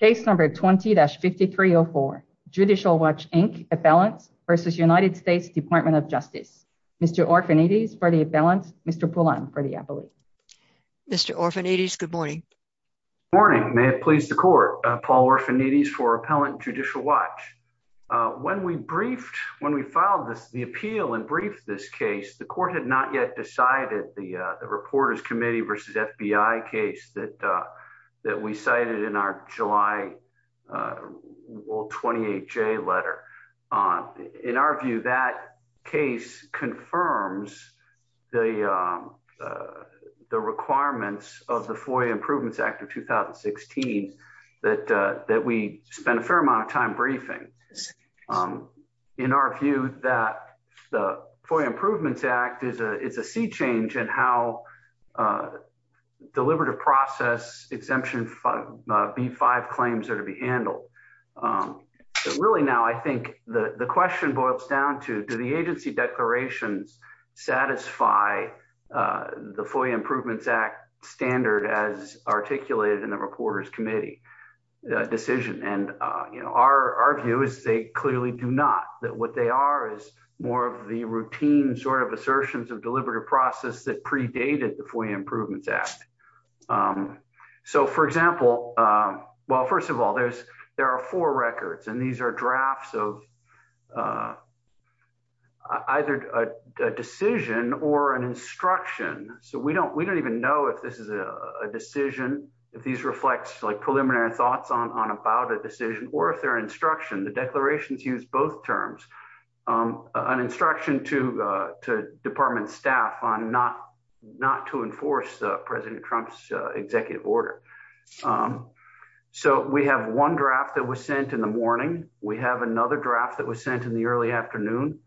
Case number 20-5304, Judicial Watch, Inc. Appellant v. United States Department of Justice. Mr. Orfanides for the appellant, Mr. Poulin for the appellate. Mr. Orfanides, good morning. Morning, may it please the court. Paul Orfanides for Appellant Judicial Watch. When we briefed, when we filed this, the appeal and briefed this case, the court had not yet cited the Reporters Committee v. FBI case that we cited in our July 28th letter. In our view, that case confirms the requirements of the FOIA Improvements Act of 2016 that we spend a fair amount of time briefing. In our view, the FOIA Improvements Act is a change in how deliberative process exemption B-5 claims are to be handled. Really now, I think the question boils down to, do the agency declarations satisfy the FOIA Improvements Act standard as articulated in the Reporters Committee decision? Our view is they clearly do not, that what they are is more of the routine sort of assertions of deliberative process that predated the FOIA Improvements Act. So for example, well, first of all, there are four records and these are drafts of either a decision or an instruction. So we don't even know if this is a decision, if these reflect like preliminary thoughts on about a decision or if they're instruction. The declarations use both terms, an instruction to department staff on not to enforce the President Trump's executive order. So we have one draft that was sent in the morning. We have another draft that was sent in the early afternoon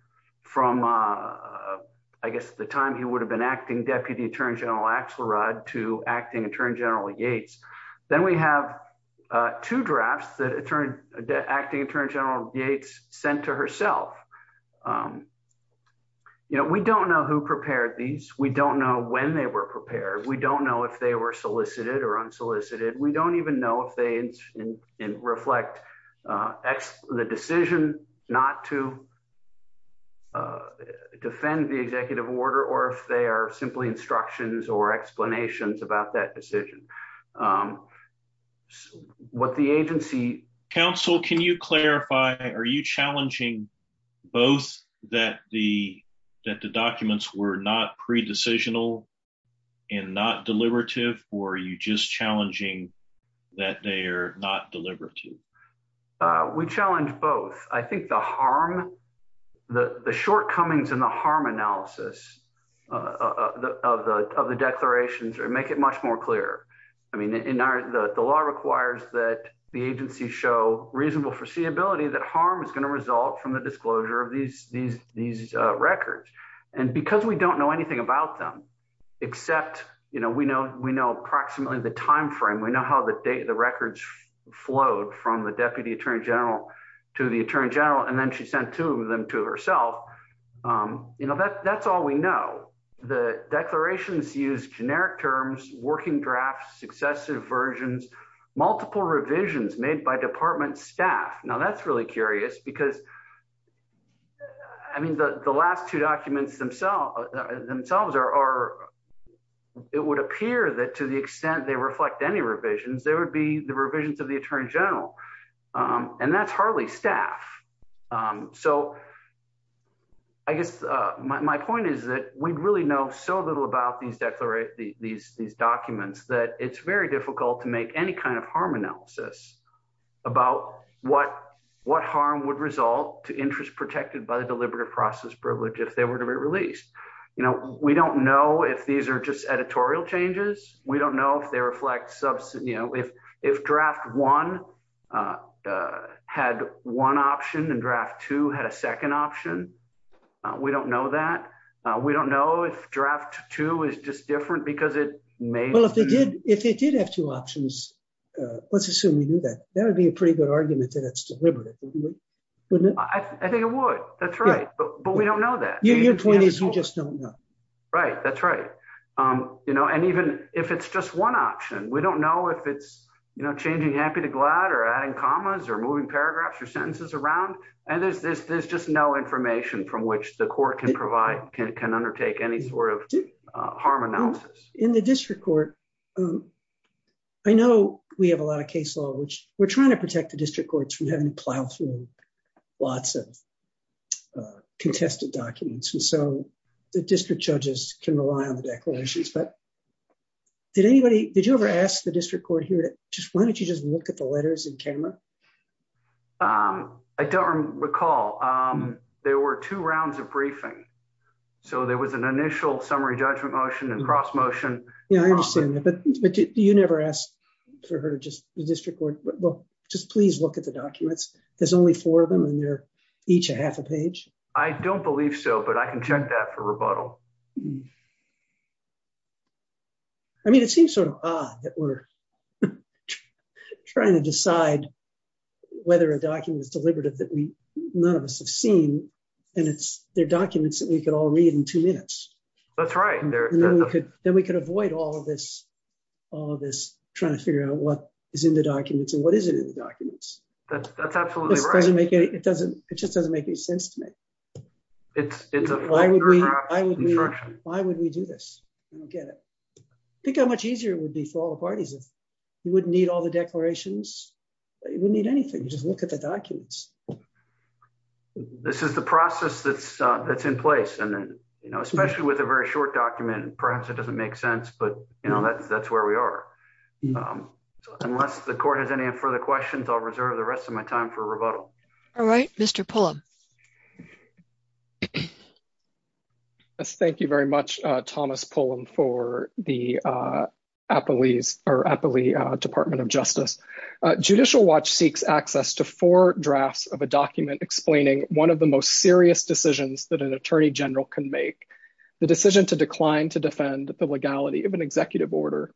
from, I guess, the time he would have been acting Deputy Attorney General Axelrod to acting Attorney General Yates. Then we have two drafts that acting Attorney General Yates sent to herself. We don't know who prepared these. We don't know when they were prepared. We don't know if they were solicited or unsolicited. We don't even know if they reflect the decision not to defend the executive order or if they are simply instructions or explanations about that decision. What the agency... Counsel, can you clarify, are you challenging both that the documents were not pre-decisional and not deliberative or are you just challenging that they are not deliberative? We challenge both. I think the harm, the shortcomings in the harm analysis of the declarations make it much more clear. The law requires that the agency show reasonable foreseeability that harm is going to result from the disclosure of these records. And because we don't know anything about them, except we know approximately the time frame, we know how the records flowed from the Deputy Attorney General to the Attorney General and then she sent two of them to herself. That's all we know. The declarations use generic terms, working drafts, successive versions, multiple revisions made by department staff. Now that's really curious because the last two documents themselves, it would appear that to the extent they reflect any revisions, they would be the revisions of the Attorney General and that's staff. My point is that we really know so little about these documents that it's very difficult to make any kind of harm analysis about what harm would result to interest protected by the deliberative process privilege if they were to be released. We don't know if these are just one option and draft two had a second option. We don't know that. We don't know if draft two is just different because it may... Well, if they did have two options, let's assume we knew that, that would be a pretty good argument that it's deliberative, wouldn't it? I think it would, that's right, but we don't know that. Your point is you just don't know. Right, that's right. And even if it's just one option, we don't know if it's changing happy to glad or adding commas or moving paragraphs or sentences around. And there's just no information from which the court can provide, can undertake any sort of harm analysis. In the district court, I know we have a lot of case law, which we're trying to protect the district courts from having to plow through lots of contested documents. And so the district judges can rely on the declarations, but did anybody, did you ever ask the district court here to just, why don't you just look at the letters in camera? I don't recall. There were two rounds of briefing. So there was an initial summary judgment motion and cross motion. Yeah, I understand that. But do you never ask for her to just, the district court, well, just please look at the documents. There's only four of them and they're each a half a page. I don't believe so, but I can check that for rebuttal. I mean, it seems sort of odd that we're trying to decide whether a document is deliberative that we, none of us have seen, and it's their documents that we could all read in two minutes. That's right. And then we could, then we could avoid all of this, all of this trying to figure out what is in the documents and what isn't in the documents. That's absolutely right. It doesn't, it just doesn't make any sense to me. Why would we do this? I don't get it. I think how much easier it would be for all the parties if you wouldn't need all the declarations. You wouldn't need anything. You just look at the documents. This is the process that's in place. And then, you know, especially with a very short document, perhaps it doesn't make sense, but you know, that's where we are. Unless the court has any further questions, I'll reserve the rest of my time for rebuttal. All right, Mr. Pullum. Thank you very much, Thomas Pullum, for the Apolli Department of Justice. Judicial Watch seeks access to four drafts of a document explaining one of the most serious decisions that an attorney general can make, the decision to decline to defend the legality of an executive order.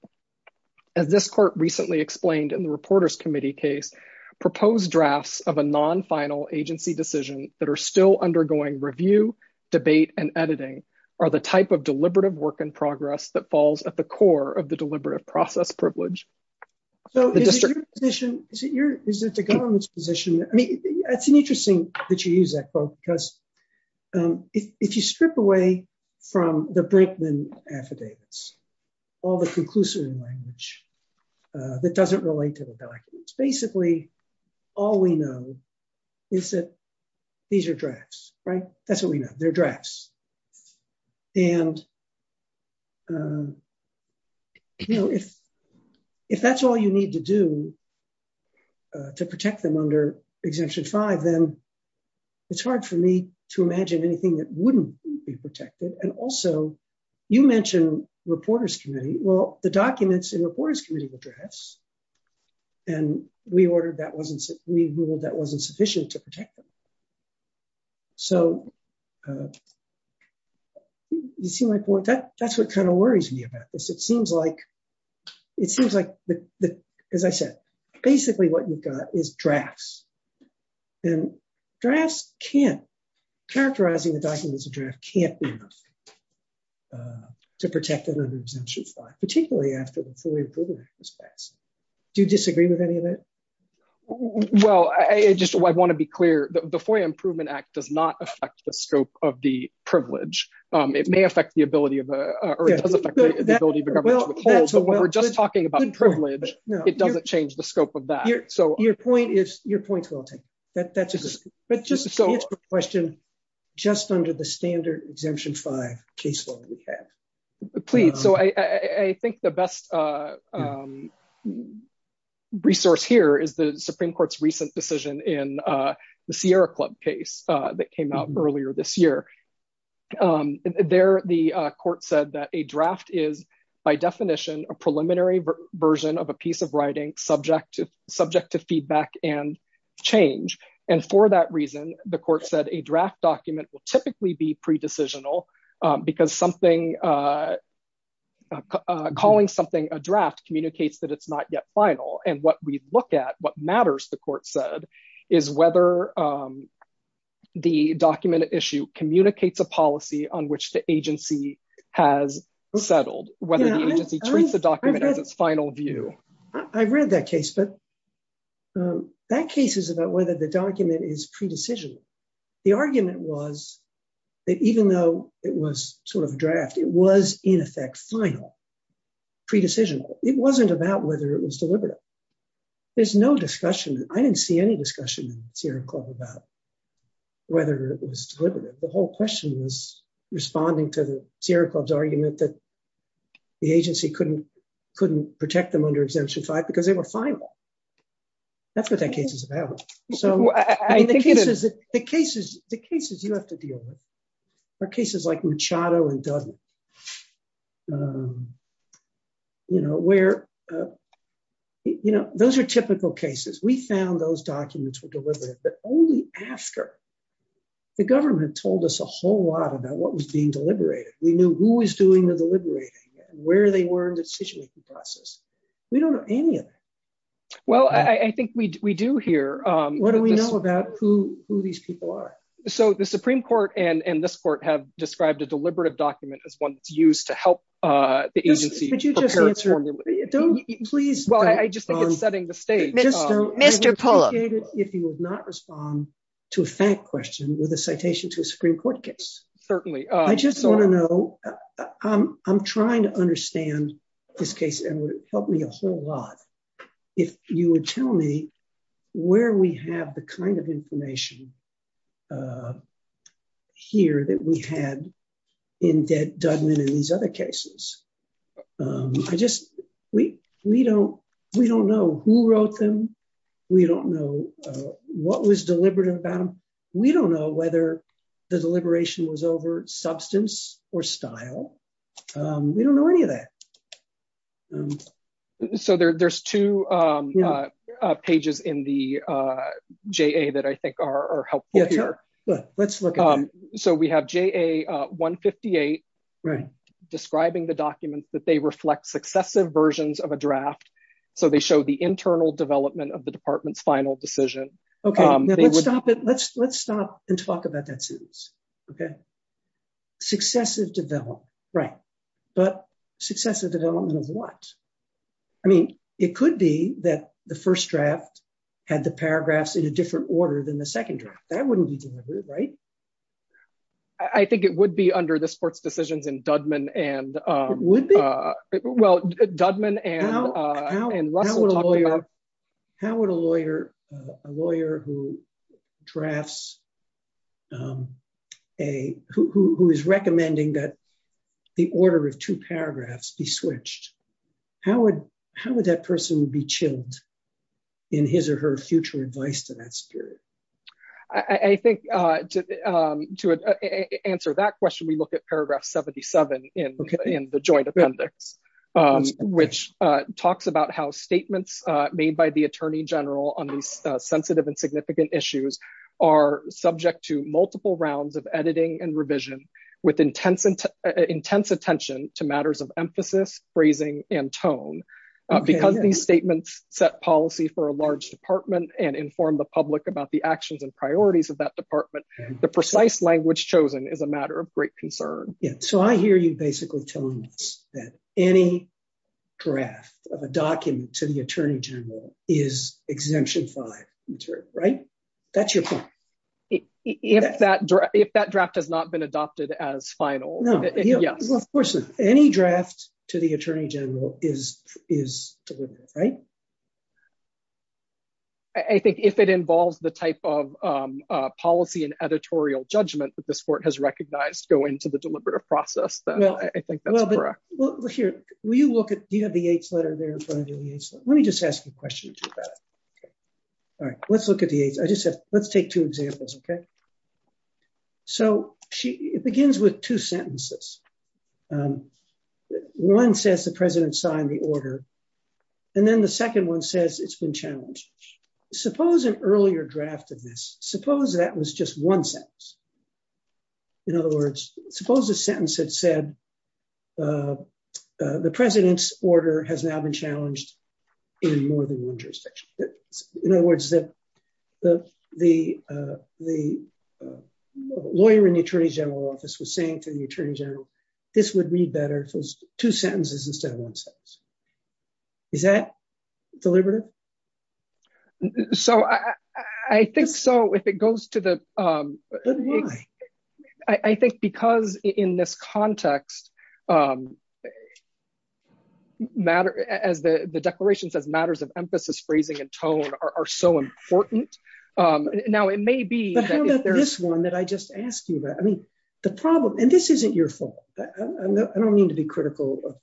As this court recently explained in the Reporters' Committee case, proposed drafts of non-final agency decisions that are still undergoing review, debate, and editing are the type of deliberative work in progress that falls at the core of the deliberative process privilege. So is it your position, is it the government's position? I mean, it's interesting that you use that quote, because if you strip away from the Brinkman affidavits, all the conclusive language that doesn't relate to the documents, basically, all we know is that these are drafts, right? That's what we know, they're drafts. And you know, if that's all you need to do to protect them under Exemption 5, then it's hard for me to imagine anything that wouldn't be protected. And also, you mentioned Reporters' Committee, well, the documents in Reporters' Committee were drafts, and we ruled that wasn't sufficient to protect them. So you see my point? That's what kind of worries me about this. It seems like, as I said, basically, what you've got is drafts. And drafts can't, characterizing the documents can't be enough to protect them under Exemption 5, particularly after the FOIA Improvement Act was passed. Do you disagree with any of that? Well, I just want to be clear that the FOIA Improvement Act does not affect the scope of the privilege. It may affect the ability of the, or it does affect the ability of the government to withhold, but when we're just talking about privilege, it doesn't change the scope of that. So your point is, your point's well taken. That's a good question. But just to answer the question, just under the standard Exemption 5 case law that we have. Please. So I think the best resource here is the Supreme Court's recent decision in the Sierra Club case that came out earlier this year. There, the court said that a draft is, by definition, a preliminary version of a piece of writing subject to, subject to feedback and change. And for that reason, the court said a draft document will typically be pre-decisional because something, calling something a draft communicates that it's not yet final. And what we look at, what matters, the court said, is whether the document issue communicates a policy on which the agency has settled, whether the agency treats the document as its final view. I've read that case, but that case is about whether the document is pre-decision. The argument was that even though it was sort of a draft, it was in effect final, pre-decision. It wasn't about whether it was deliberative. There's no discussion. I didn't see any discussion in the Sierra Club about whether it was deliberative. The whole question was responding to the Sierra Club's argument that the agency couldn't, couldn't protect them under exemption five because they were final. That's what that case is about. So the cases, the cases you have to deal with are cases like Machado and Dudley, you know, where, you know, those are typical cases. We found those documents were deliberative, but only after the government told us a whole lot about what was being deliberated. We knew who was doing the deliberating and where they were in the decision-making process. We don't know any of it. Well, I think we, we do here. What do we know about who, who these people are? So the Supreme Court and, and this court have described a deliberative document as one that's used to help the agency prepare for- Could you just answer, don't, please- Well, I just think it's setting the stage. Just don't- With a citation to a Supreme Court case. Certainly. I just want to know, I'm, I'm trying to understand this case and it would help me a whole lot if you would tell me where we have the kind of information here that we had in Dudley and these other cases. I just, we, we don't, we don't know who wrote them. We don't know what was deliberative about them. We don't know whether the deliberation was over substance or style. We don't know any of that. So there, there's two pages in the JA that I think are helpful here. Yeah, sure. Let's look at them. So we have JA 158- Right. Describing the documents that they reflect successive versions of a draft. So they show the internal development of the department's final decision. Okay. Let's stop it. Let's, let's stop and talk about that soon. Okay. Successive development. Right. But successive development of what? I mean, it could be that the first draft had the paragraphs in a different order than the second draft. That wouldn't be deliberate, right? I think it would be under the sports decisions in Dudman and- It would be? Well, Dudman and Russell talked about- How would a lawyer, a lawyer who drafts a, who is recommending that the order of two paragraphs be switched, how would, how would that person be chilled in his or her future advice to that spirit? I think to, to answer that question, we look at paragraph 77 in the joint appendix. Okay. Which talks about how statements made by the attorney general on these sensitive and significant issues are subject to multiple rounds of editing and revision with intense, intense attention to matters of emphasis, phrasing, and tone. Okay. Because these statements set policy for a large department and inform the public about the actions and priorities of that department, the precise language chosen is a matter of great concern. Yeah. So I hear you basically telling us that any draft of a document to the attorney general is exemption five, right? That's your point. If that draft has not been adopted as final, yes. Well, of course not. Any draft to the attorney general is, is deliberate, right? I think if it involves the type of policy and editorial judgment that this court has to process that, I think that's correct. Well, here, will you look at, do you have the Yates letter there in front of you? Let me just ask you a question about it. All right. Let's look at the Yates. I just said, let's take two examples. Okay. So she, it begins with two sentences. One says the president signed the order, and then the second one says it's been challenged. Suppose an earlier draft of this, suppose that was just one sentence. In other words, suppose the sentence had said the president's order has now been challenged in more than one jurisdiction. In other words, that the lawyer in the attorney general office was saying to the attorney general, this would read better if it was two sentences instead of one sentence. Is that deliberative? So I, I think so, if it goes to the, I think because in this context matter as the, the declaration says matters of emphasis, phrasing and tone are so important. Now it may be. But how about this one that I just asked you about? I mean, the problem, and this isn't your fault. I don't mean to be critical.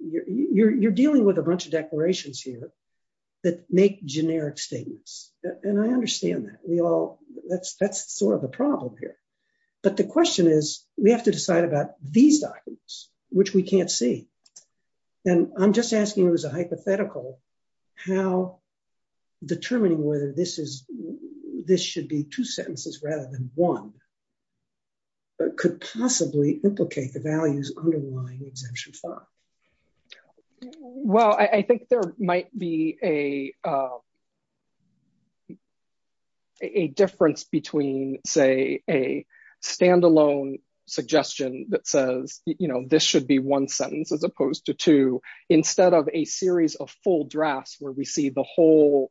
You're, you're, you're dealing with a bunch of declarations here. That make generic statements. And I understand that we all that's, that's sort of a problem here. But the question is, we have to decide about these documents, which we can't see. And I'm just asking you as a hypothetical, how determining whether this is, this should be two sentences rather than one, but could possibly implicate the values underlying exemption five. Well, I think there might be a, a difference between say a standalone suggestion that says, you know, this should be one sentence as opposed to two, instead of a series of full drafts, where we see the whole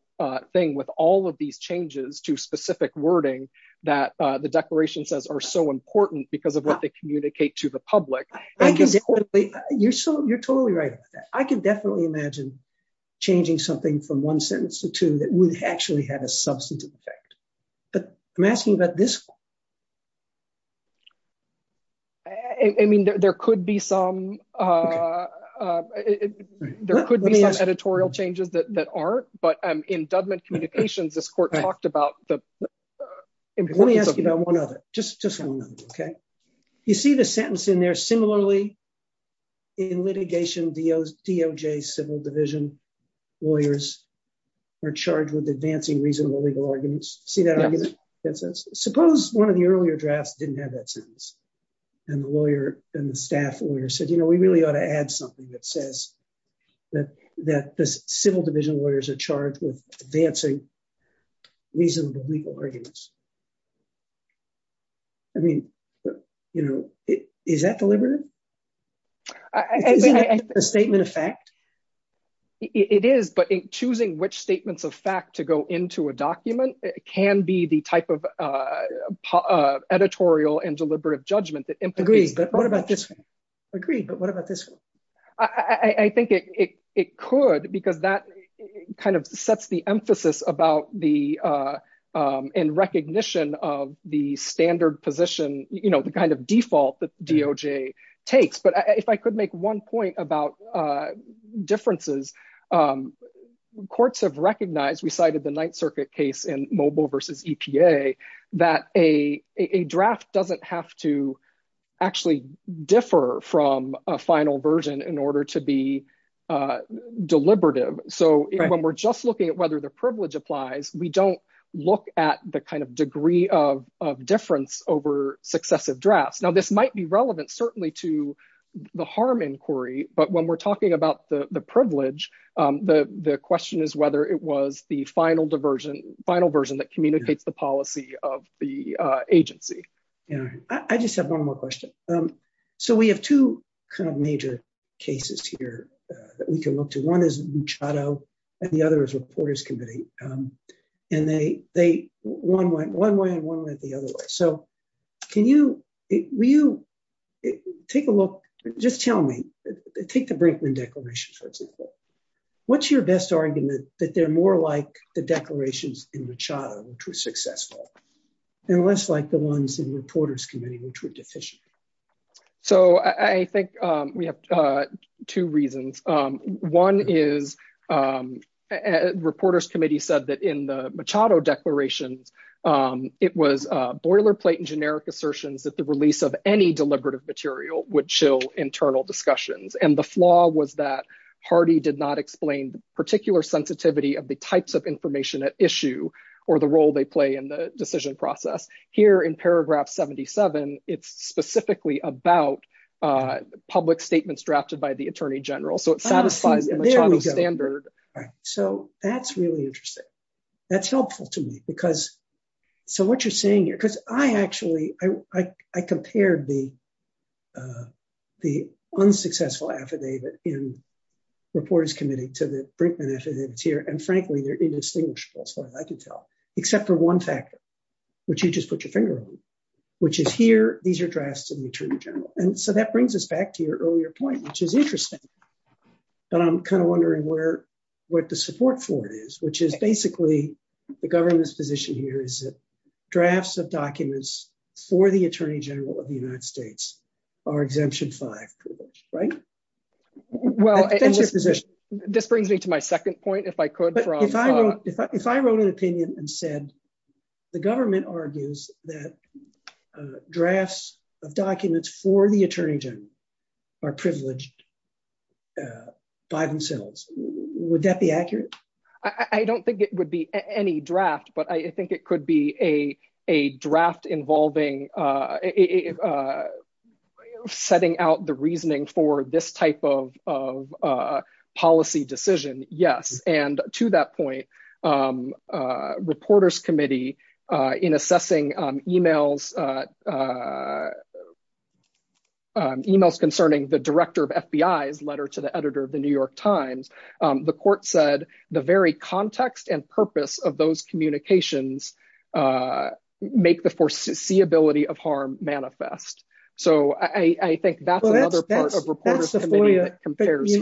thing with all of these changes to specific wording that the declaration says are so important because of what they communicate to the public. I can definitely, you're so, you're totally right. I can definitely imagine changing something from one sentence to two that would actually have a substantive effect. But I'm asking about this. I mean, there could be some, there could be some editorial changes that aren't, but in Dudman communications, this court talked about the importance of. Let me ask you about one other, just, just one. Okay. You see the sentence in there similarly in litigation, DOJ civil division lawyers are charged with advancing reasonable legal arguments. See that argument that says, suppose one of the earlier drafts didn't have that sentence and the lawyer and the staff lawyer said, you know, we really ought to add something that says that, that the civil division lawyers are charged with advancing reasonable legal arguments. I mean, you know, is that deliberative? A statement of fact. It is, but in choosing which statements of fact to go into a document can be the type of editorial and deliberative judgment that imposes. But what about this one? Agreed. But what about this one? I think it, it, it could, because that kind of sets the emphasis about the in recognition of the standard position, you know, the kind of default that DOJ takes. But if I could make one point about differences courts have recognized, we cited the ninth circuit case in mobile versus EPA, that a draft doesn't have to actually differ from a final version in order to be deliberative. So when we're just looking at whether the privilege applies, we don't look at the kind of degree of difference over successive drafts. Now, this might be relevant, certainly to the harm inquiry. But when we're talking about the privilege, the question is whether it was the final diversion, final version that communicates the policy of the agency. I just have one more question. So we have two kind of major cases here that we can look to. One is Machado and the other is Reporters Committee. And they, they, one went one way and one went the other way. So can you, will you take a look, just tell me, take the Brinkman declarations, for example. What's your best argument that they're more like the declarations in Machado which were successful and less like the ones in Reporters Committee which were deficient? So I think we have two reasons. One is Reporters Committee said that in the Machado declarations, it was boilerplate and generic assertions that the release of any deliberative material would entail internal discussions. And the flaw was that Hardy did not explain the particular sensitivity of the types of information at issue or the role they play in the decision process. Here in paragraph 77, it's specifically about public statements drafted by the Attorney General. So it satisfies the Machado standard. So that's really interesting. That's helpful to me because, so what you're saying here, because I actually, I, I, I compared the, the unsuccessful affidavit in Reporters Committee to the Brinkman affidavits here. And frankly, they're indistinguishable as far as I can tell, except for one factor, which you just put your finger on, which is here, these are drafts of the Attorney General. And so that brings us back to your earlier point, which is interesting, but I'm kind of wondering where, what the support for it is, which is basically the government's position here is that drafts of documents for the Attorney General of the United States are exemption five, right? Well, this brings me to my second point, if I could, if I wrote an opinion and said, the government argues that drafts of documents for the Attorney General are privileged by themselves, would that be accurate? I don't think it would be any draft, but I think it could be a, a draft involving, setting out the reasoning for this type of, of policy decision. Yes. And to that point, Reporters Committee in assessing emails, emails concerning the director of FBI's letter to the editor of the New York Times, the court said the very context and purpose of those communications make the foreseeability of harm manifest. So I think that's another part of Reporters Committee that compares.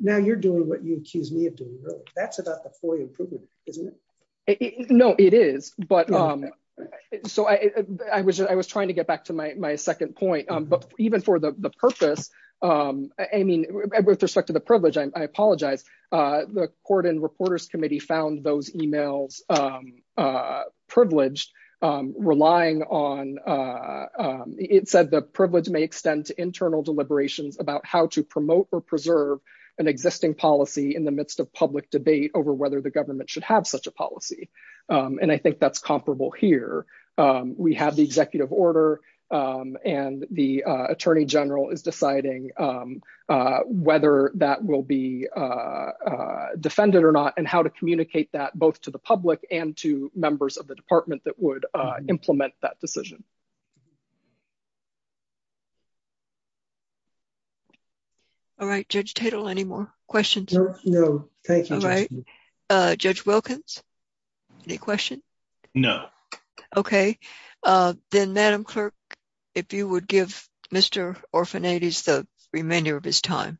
Now you're doing what you accused me of doing earlier. That's about the FOIA improvement, isn't it? No, it is. But so I was just, I was trying to get back to my second point, but even for the purpose, I mean, with respect to the privilege, I apologize. The Court and Reporters Committee found those emails privileged, relying on, it said the privilege may extend to an existing policy in the midst of public debate over whether the government should have such a policy. And I think that's comparable here. We have the executive order and the Attorney General is deciding whether that will be defended or not and how to communicate that both to the public and to members of the department that would implement that decision. All right, Judge Tatel, any more questions? No, thank you. All right, Judge Wilkins, any questions? No. Okay, then Madam Clerk, if you would give Mr. Orfinates the remainder of his time.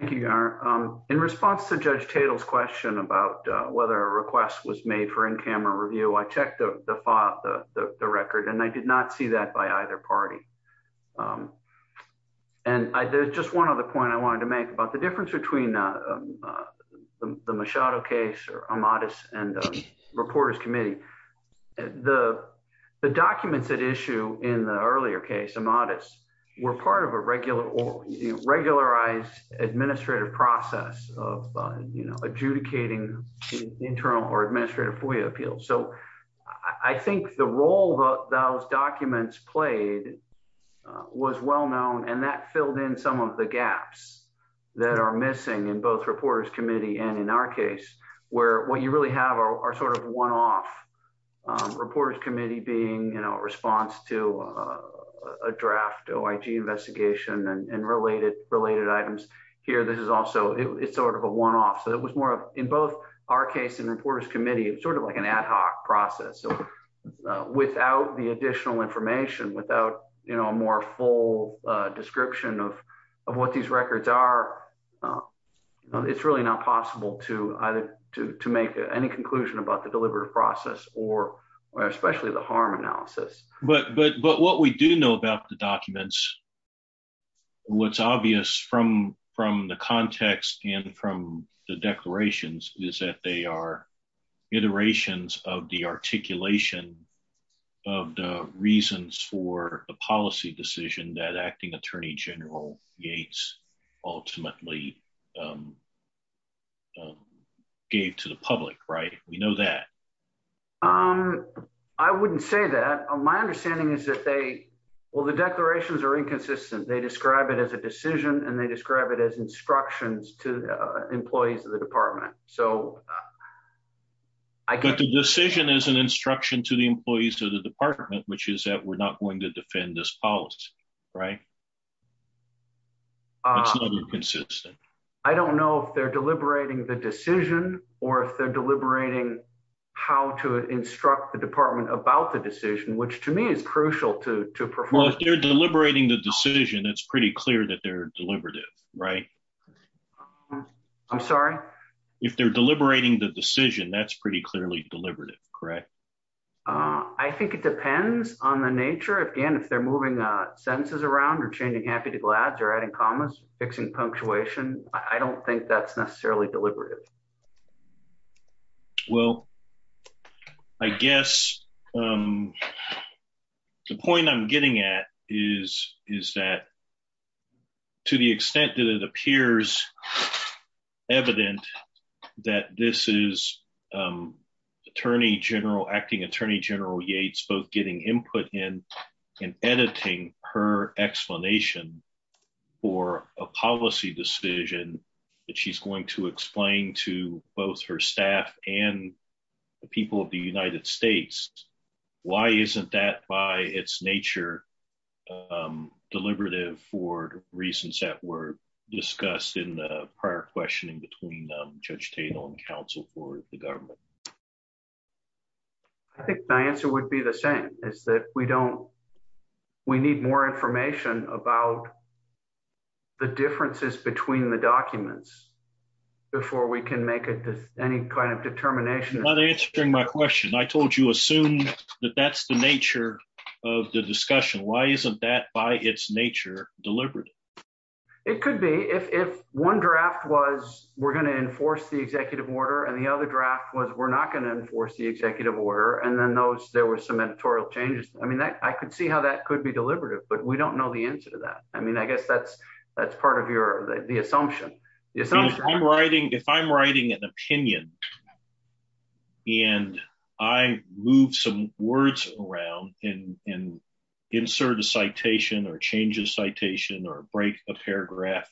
Thank you, Gar. In response to Judge Tatel's question about whether a request was made for camera review, I checked the file, the record, and I did not see that by either party. And there's just one other point I wanted to make about the difference between the Machado case or Amatis and Reporters Committee. The documents at issue in the earlier case, Amatis, were part of a regularized administrative process of adjudicating internal or administrative FOIA appeals. So I think the role those documents played was well known and that filled in some of the gaps that are missing in both Reporters Committee and in our case where what you really have are sort of one-off. Reporters Committee being, you know, response to a draft OIG investigation and related items. Here, this is also, it's sort of a one-off. So it was more of, in both our case and Reporters Committee, it was sort of like an ad hoc process. So without the additional information, without, you know, a more full description of what these records are, it's really not possible to either to make any conclusion about the deliberative process or especially the harm analysis. But what we do know about the documents, what's obvious from the context and from the declarations is that they are iterations of the articulation of the reasons for the policy decision that Acting Attorney General Yates ultimately gave to the public, right? We know that. I wouldn't say that. My understanding is that they, well, the declarations are inconsistent. They describe it as a decision and they describe it as instructions to employees of the department. So I could... But the decision is an instruction to the employees of the department, which is that we're not going to defend this policy, right? It's not inconsistent. I don't know if they're deliberating the decision or if they're deliberating how to instruct the department about the decision, which to me is crucial to perform. Well, if they're deliberating the decision, it's pretty clear that they're deliberative, right? I'm sorry? If they're deliberating the decision, that's pretty deliberate, correct? I think it depends on the nature. Again, if they're moving sentences around or changing happy to glads or adding commas, fixing punctuation, I don't think that's necessarily deliberative. Well, I guess the point I'm getting at is that to the extent that it appears evident that this is Attorney General, Acting Attorney General Yates, both getting input in and editing her explanation for a policy decision that she's going to explain to both her staff and the people of the United States, why isn't that by its nature deliberative for reasons that were discussed in the prior questioning between Judge Tatel and counsel for the government? I think my answer would be the same, is that we need more information about the differences between the documents before we can make any kind of determination. You're not answering my question. I told you, assume that that's the nature of the discussion. Why isn't that by its nature deliberative? It could be. If one draft was, we're going to enforce the executive order, and the other draft was, we're not going to enforce the executive order, and then there were some editorial changes. I could see how that could be deliberative, but we don't know the answer to that. I guess that's part of the assumption. If I'm writing an opinion, and I move some words around and insert a citation or change a citation or break a paragraph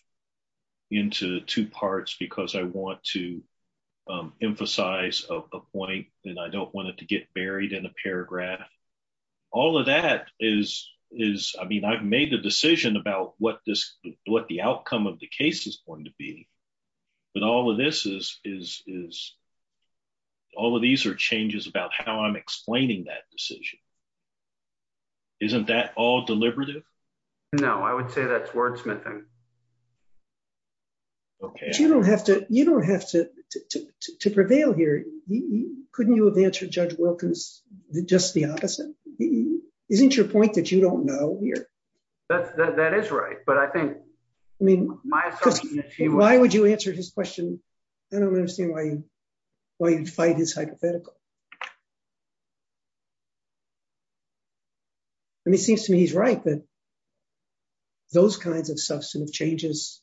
into two parts because I want to emphasize a point, and I don't want it to get buried in a paragraph, all of that is, I mean, I've made a decision about what the outcome of the case is going to be, but all of these are changes about how I'm explaining that decision. Isn't that all deliberative? No, I would say that's wordsmithing. You don't have to prevail here. Couldn't you have answered Judge Wilkins just the opposite? Isn't your point that you don't know here? That is right. Why would you answer his question? I don't understand why you'd fight his hypothetical. It seems to me he's right that those kinds of substantive changes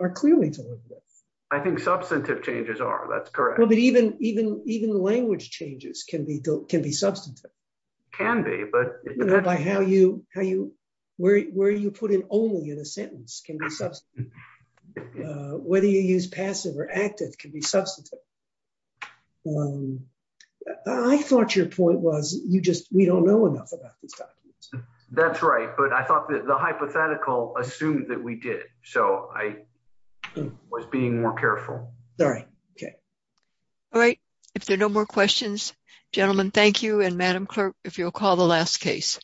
are clearly deliberative. I think substantive changes are, that's correct. Even language changes can be substantive. Can be. Where you put an only in a sentence can be substantive. Whether you use passive or active can be substantive. I thought your point was we don't know enough about these documents. That's right, but I thought that the hypothetical assumed that we did, so I was being more careful. Okay, all right. If there are no more questions, gentlemen, thank you, and Madam Clerk, if you'll call the last case.